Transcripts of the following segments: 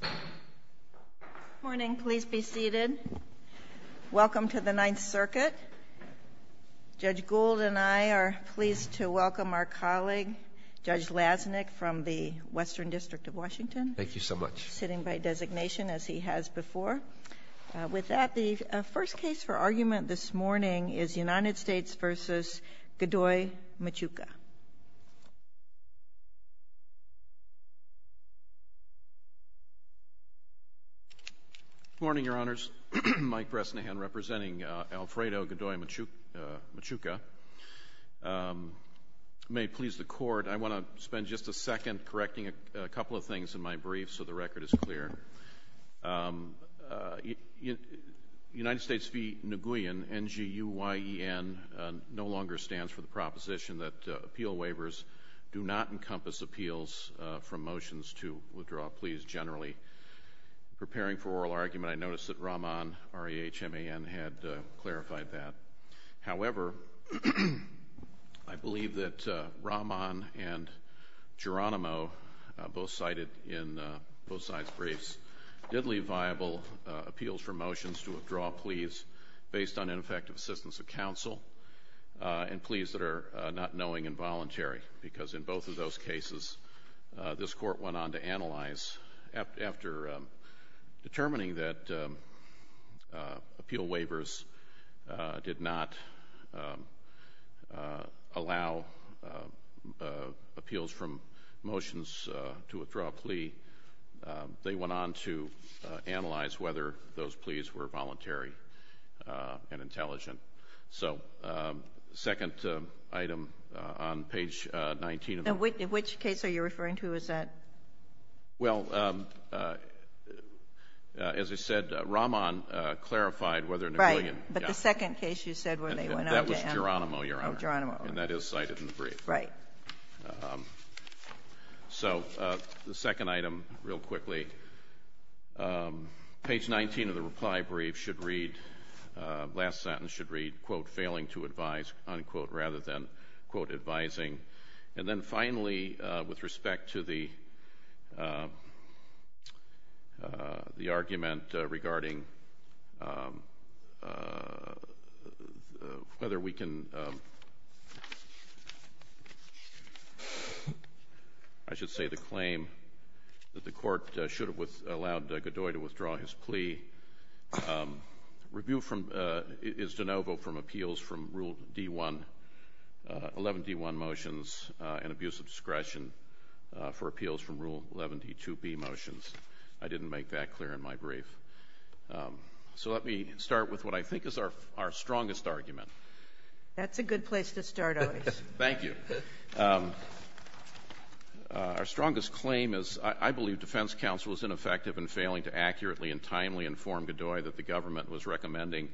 Good morning. Please be seated. Welcome to the Ninth Circuit. Judge Gould and I are pleased to welcome our colleague, Judge Lasnik, from the Western District of Washington. Thank you so much. Sitting by designation, as he has before. With that, the first case for argument this morning is United States v. Godoy-Machuca. Good morning, Your Honors. Mike Bresnahan representing Alfredo Godoy-Machuca. May it please the Court, I want to spend just a second correcting a couple of things in my brief so the record is clear. United States v. Nguyen, N-G-U-Y-E-N, no longer stands for the proposition that appeal waivers do not encompass appeals from motions to withdraw pleas generally. Preparing for oral argument, I noticed that Rahman, R-E-H-M-A-N, had clarified that. However, I believe that Rahman and Geronimo, both cited in both sides' briefs, did leave viable appeals from motions to withdraw pleas based on ineffective assistance of counsel and pleas that are not knowing and voluntary. Because in both of those cases, this Court went on to analyze, after determining that appeal waivers did not allow appeals from motions to withdraw a plea, they went on to analyze whether those pleas were voluntary and intelligent. So, second item on page 19 of the report. And which case are you referring to? Is that? Well, as I said, Rahman clarified whether Nguyen – Right. But the second case you said where they went on to analyze – That was Geronimo, Your Honor. Oh, Geronimo. And that is cited in the brief. Right. So the second item, real quickly. Page 19 of the reply brief should read, last sentence should read, quote, failing to advise, unquote, rather than, quote, advising. And then finally, with respect to the argument regarding whether we can – I should say the claim that the from Rule 11d-1 motions and abuse of discretion for appeals from Rule 11d-2b motions. I didn't make that clear in my brief. So let me start with what I think is our strongest argument. That's a good place to start, Otis. Thank you. Our strongest claim is I believe defense counsel is ineffective in failing to accurately and timely inform Godoy that the government was recommending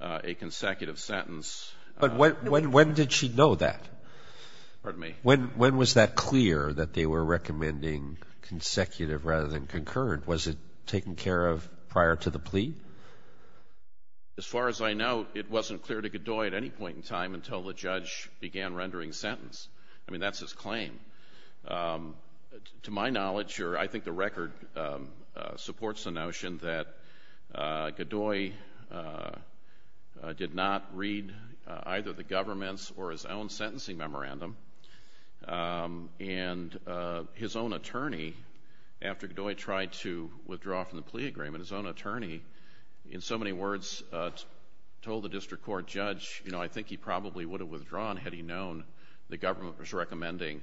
a consecutive sentence. But when did she know that? Pardon me? When was that clear that they were recommending consecutive rather than concurrent? Was it taken care of prior to the plea? As far as I know, it wasn't clear to Godoy at any point in time until the judge began rendering sentence. I mean, that's his claim. To my knowledge, or I think the record supports the notion that Godoy did not read either the government's or his own sentencing memorandum. And his own attorney, after Godoy tried to withdraw from the plea agreement, his own attorney in so many words told the district court judge, you know, I think he probably would have withdrawn had he known the government was recommending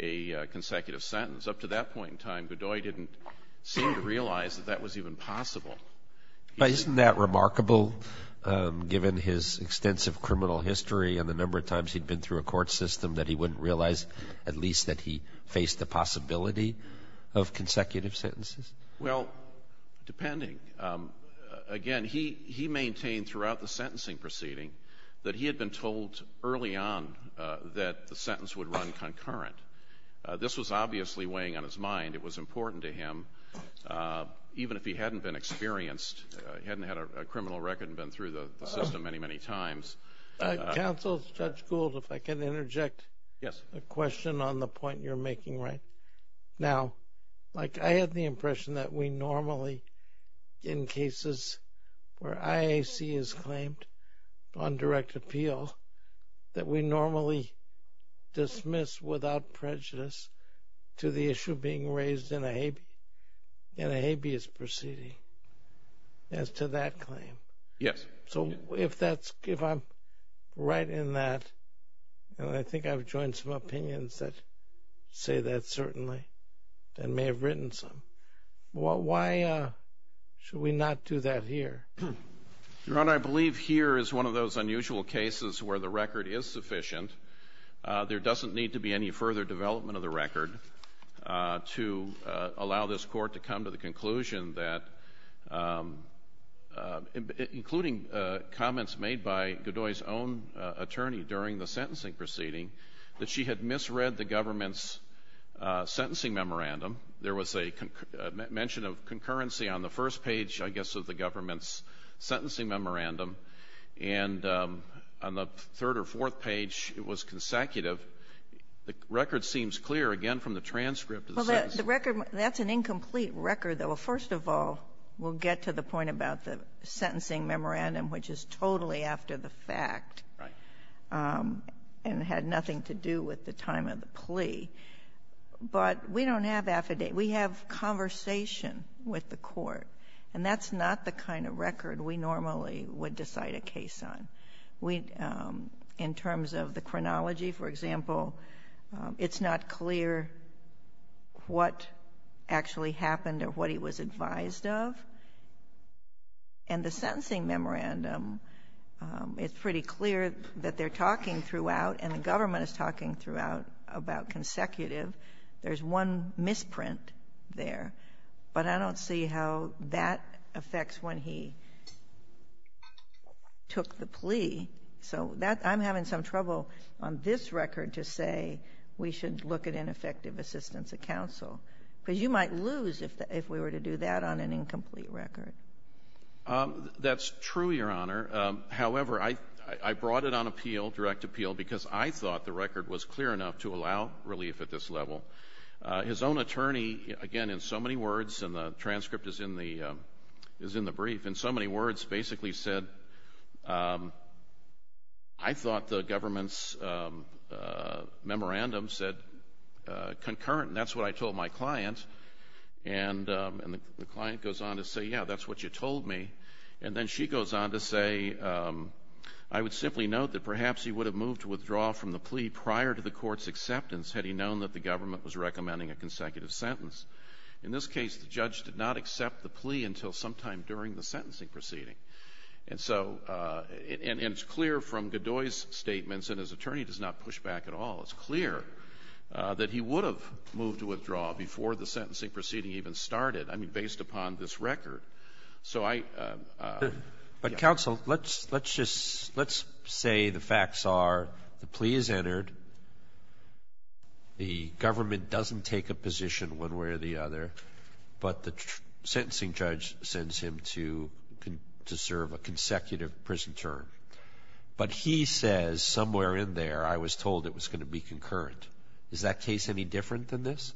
a consecutive sentence. Up to that point in time, Godoy didn't seem to realize that that was even possible. Isn't that remarkable, given his extensive criminal history and the number of times he'd been through a court system, that he wouldn't realize at least that he faced the possibility of consecutive sentences? Well, depending. Again, he maintained throughout the sentencing proceeding that he had been told early on that the sentence would run concurrent. This was obviously weighing on his mind. It was important to him, even if he hadn't been experienced, hadn't had a criminal record and been through the system many, many times. Counsel, Judge Gould, if I can interject a question on the point you're making right now. I had the impression that we normally, in cases where IAC is claimed on direct appeal, that we normally dismiss without prejudice to the issue being raised in a habeas proceeding as to that claim. Yes. So if I'm right in that, and I think I've joined some opinions that say that certainly and may have written some, why should we not do that here? Your Honor, I believe here is one of those unusual cases where the record is sufficient. There doesn't need to be any further development of the record to allow this Court to come to the conclusion that, including comments made by Godoy's own attorney during the sentencing proceeding, that she had misread the government's sentencing memorandum. And on the third or fourth page, it was consecutive. The record seems clear, again, from the transcript. Well, the record, that's an incomplete record, though. First of all, we'll get to the point about the sentencing memorandum, which is totally after the fact. Right. And it had nothing to do with the time of the plea. But we don't have affidavit. We have conversation with the Court. And that's not the kind of record we normally would decide a case on. We, in terms of the chronology, for example, it's not clear what actually happened or what he was advised of. And the sentencing memorandum, it's pretty clear that they're talking throughout and the government is talking throughout about consecutive. There's one misprint there. But I don't see how that affects when he took the plea. So that — I'm having some trouble on this record to say we should look at ineffective assistance of counsel, because you might lose if we were to do that on an incomplete record. That's true, Your Honor. However, I brought it on appeal, direct appeal, because I thought the record was clear enough to allow relief at this level. His own attorney, again, in so many words, and the transcript is in the brief, in so many words, basically said, I thought the government's memorandum said concurrent. And that's what I told my client. And the client goes on to say, yeah, that's what you told me. And then she goes on to say, I would simply note that perhaps he would have moved to recommending a consecutive sentence. In this case, the judge did not accept the plea until sometime during the sentencing proceeding. And so — and it's clear from Godoy's statements, and his attorney does not push back at all, it's clear that he would have moved to withdraw before the sentencing proceeding even started, I mean, based upon this record. So I — But, counsel, let's just — let's say the facts are the plea is entered, the government doesn't take a position one way or the other, but the sentencing judge sends him to serve a consecutive prison term. But he says, somewhere in there, I was told it was going to be concurrent. Is that case any different than this?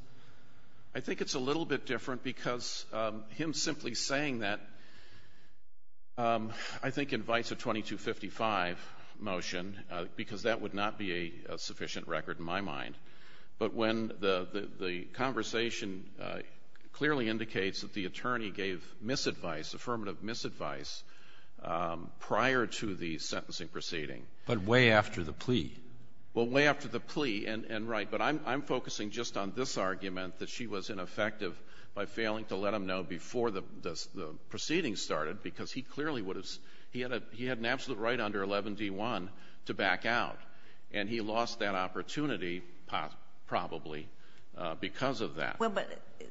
I think it's a little bit different because him simply saying that, I think invites a 2255 motion, because that would not be a sufficient record in my mind. But when the conversation clearly indicates that the attorney gave misadvice, affirmative misadvice, prior to the sentencing proceeding. But way after the plea. Well, way after the plea, and right. But I'm focusing just on this argument, that she was ineffective by failing to let him know before the proceeding started, because he clearly would have — he had an absolute right under 11d1 to back out. And he lost that opportunity probably because of that. Well, but,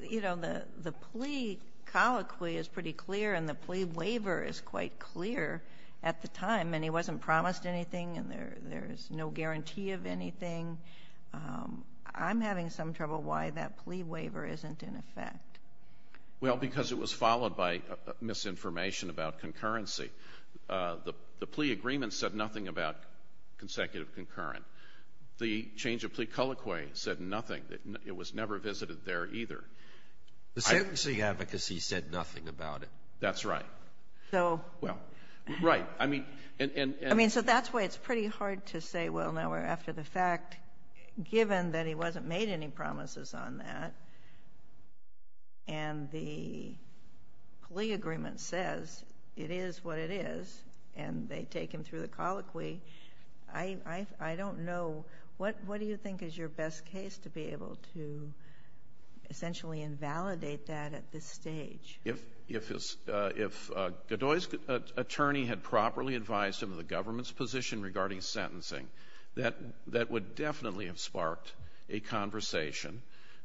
you know, the plea colloquy is pretty clear, and the plea waiver is quite clear at the time. And he wasn't promised anything, and there's no guarantee of anything. I'm having some trouble why that plea waiver isn't in effect. Well, because it was followed by misinformation about concurrency. The plea agreement said nothing about consecutive concurrent. The change of plea colloquy said nothing. It was never visited there either. The sentencing advocacy said nothing about it. That's right. So — Well, right. I mean, and — I mean, so that's why it's pretty hard to say, well, now we're after the fact, given what it is, and they take him through the colloquy, I don't know — what do you think is your best case to be able to essentially invalidate that at this stage? If — if Godoy's attorney had properly advised him of the government's position regarding sentencing, that — that would definitely have sparked a conversation.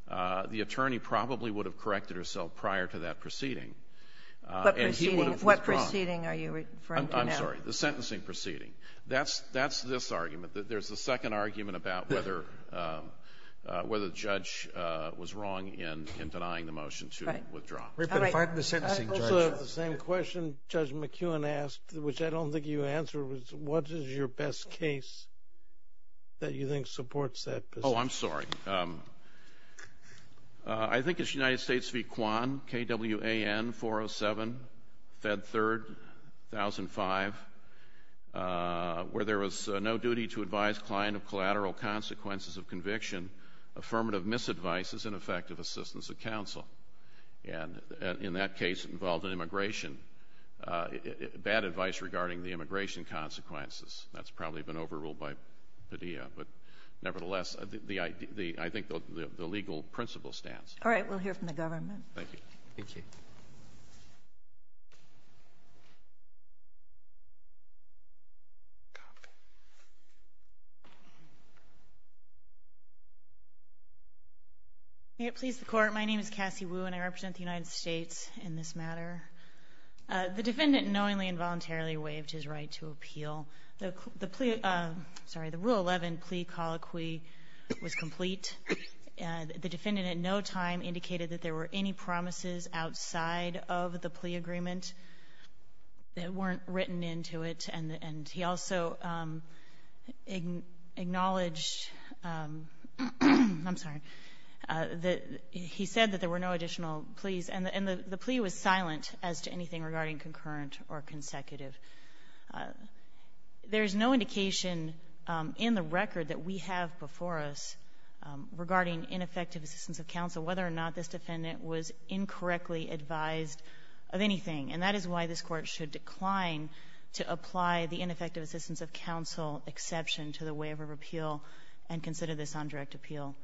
The attorney probably would have corrected herself prior to that proceeding. What proceeding? What proceeding are you referring to now? I'm sorry. The sentencing proceeding. That's — that's this argument. There's a second argument about whether — whether the judge was wrong in denying the motion to withdraw. Right. All right. But if I'm the sentencing judge — I also have the same question Judge McEwen asked, which I don't think you answered, was what is your best case that you think supports that position? Oh, I'm sorry. I think it's United States v. Kwan, K-W-A-N, 407, Fed Third, 1005, where there was no duty to advise client of collateral consequences of conviction, affirmative misadvices, and effective assistance of counsel. And in that case, it involved an immigration — bad advice regarding the immigration consequences. But nevertheless, the — I think the legal principle stands. All right. We'll hear from the government. Thank you. Thank you. May it please the Court, my name is Cassie Wu, and I represent the United States in this matter. The defendant knowingly and voluntarily waived his right to appeal. The plea — sorry, the Rule 11 plea colloquy was complete. The defendant at no time indicated that there were any promises outside of the plea agreement that weren't written into it, and he also acknowledged — I'm sorry — he said that there were no additional pleas, and the plea was silent as to anything regarding concurrent or consecutive. There is no indication in the record that we have before us regarding ineffective assistance of counsel, whether or not this defendant was incorrectly advised of anything. And that is why this Court should decline to apply the ineffective assistance of counsel exception to the waiver of appeal and consider this on direct appeal.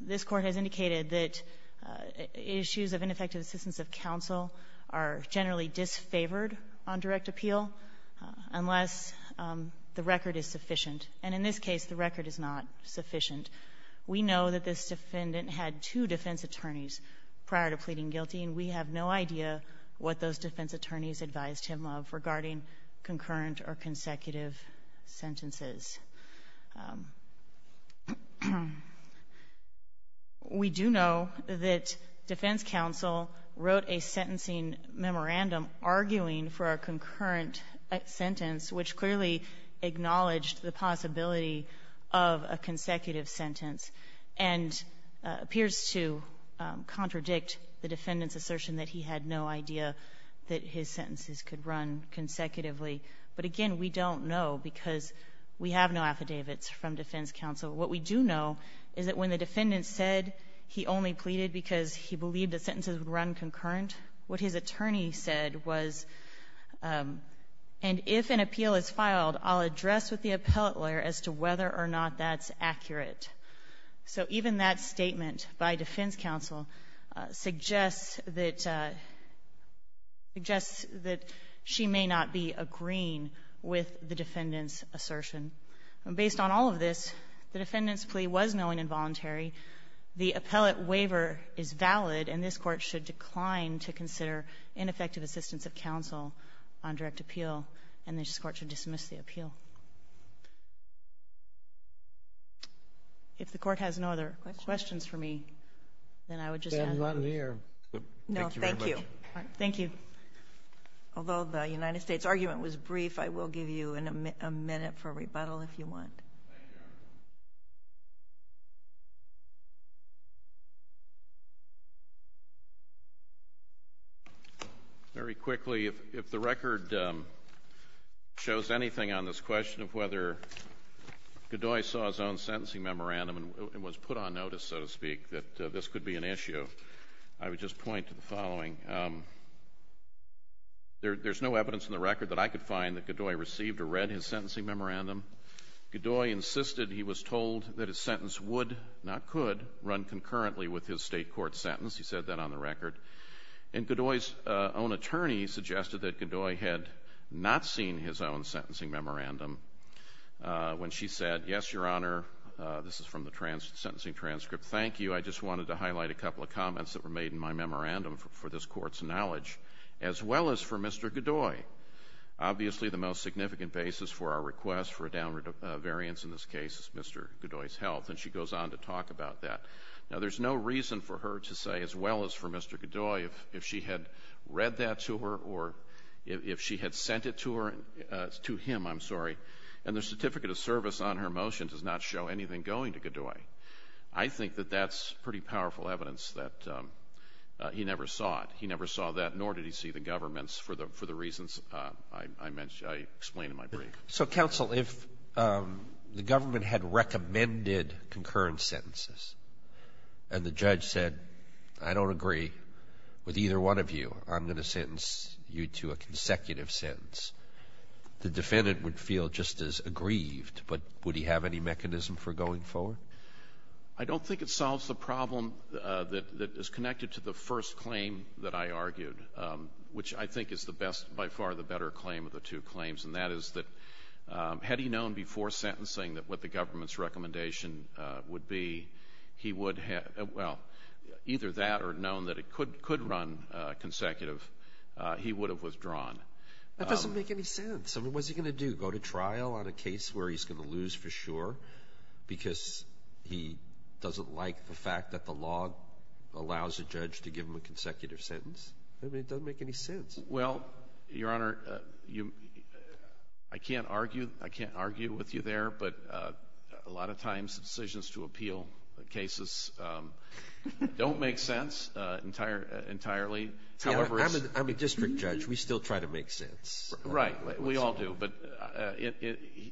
This Court has indicated that issues of ineffective assistance of counsel are generally disfavored on direct appeal unless the record is sufficient. And in this case, the record is not sufficient. We know that this defendant had two defense attorneys prior to pleading guilty, and we have no idea what those defense attorneys advised him of regarding concurrent or consecutive sentences. We do know that defense counsel wrote a sentencing memorandum arguing for a concurrent sentence, which clearly acknowledged the possibility of a consecutive sentence and appears to contradict the defendant's assertion that he had no idea that his sentences could run consecutively. But again, we don't know because we have no affidavits from defense counsel. What we do know is that when the defendant said he only pleaded because he believed the sentences would run concurrent, what his attorney said was, and if an appeal is filed, I'll address with the appellate lawyer as to whether or not that's accurate. So even that statement by defense counsel suggests that she may not be agreeing with the defendant's assertion. Based on all of this, the defendant's plea was knowing and voluntary. The appellate waiver is valid, and this Court should decline to consider ineffective assistance of counsel on direct appeal, and this Court should dismiss the appeal. If the Court has no other questions for me, then I would just add those. Kennedy, thank you very much. Thank you. Although the United States argument was brief, I will give you a minute for rebuttal if you want. Very quickly, if the record shows anything on this question of whether Godoy saw his own sentencing memorandum and was put on notice, so to speak, that this could be an error, there's no evidence in the record that I could find that Godoy received or read his sentencing memorandum. Godoy insisted he was told that his sentence would, not could, run concurrently with his State court sentence. He said that on the record. And Godoy's own attorney suggested that Godoy had not seen his own sentencing memorandum when she said, yes, Your Honor, this is from the sentencing transcript, thank you. I just wanted to highlight a couple of comments that were made in my memorandum for this Court's knowledge, as well as for Mr. Godoy. Obviously, the most significant basis for our request for a downward variance in this case is Mr. Godoy's health, and she goes on to talk about that. Now, there's no reason for her to say, as well as for Mr. Godoy, if she had read that to her or if she had sent it to him, I'm sorry. And the certificate of service on her motion does not show anything going to Godoy. I think that that's pretty powerful evidence that he never saw it. He never saw that, nor did he see the government's, for the reasons I mentioned, I explained in my brief. So, counsel, if the government had recommended concurrent sentences and the judge said, I don't agree with either one of you, I'm going to sentence you to a consecutive sentence, the defendant would feel just as aggrieved, but would he have any mechanism for going forward? I don't think it solves the problem that is connected to the first claim that I argued, which I think is the best, by far, the better claim of the two claims, and that is that had he known before sentencing that what the government's recommendation would be, he would have, well, either that or known that it could run consecutive, he would have withdrawn. That doesn't make any sense. I mean, what's he going to do? Go to trial on a case where he's going to lose for sure because he doesn't like the fact that the law allows a judge to give him a consecutive sentence? I mean, it doesn't make any sense. Well, Your Honor, I can't argue with you there, but a lot of times, decisions to appeal cases don't make sense entirely. Yeah, I'm a district judge. We still try to make sense. Right. We all do, but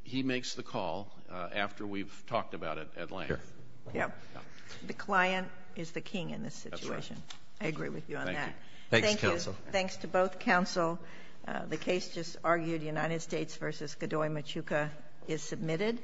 he makes the call after we've talked about it at length. The client is the king in this situation. That's right. I agree with you on that. Thank you. Thanks, counsel. Thanks to both counsel. The case just argued, United States v. Godoy-Machuca, is submitted.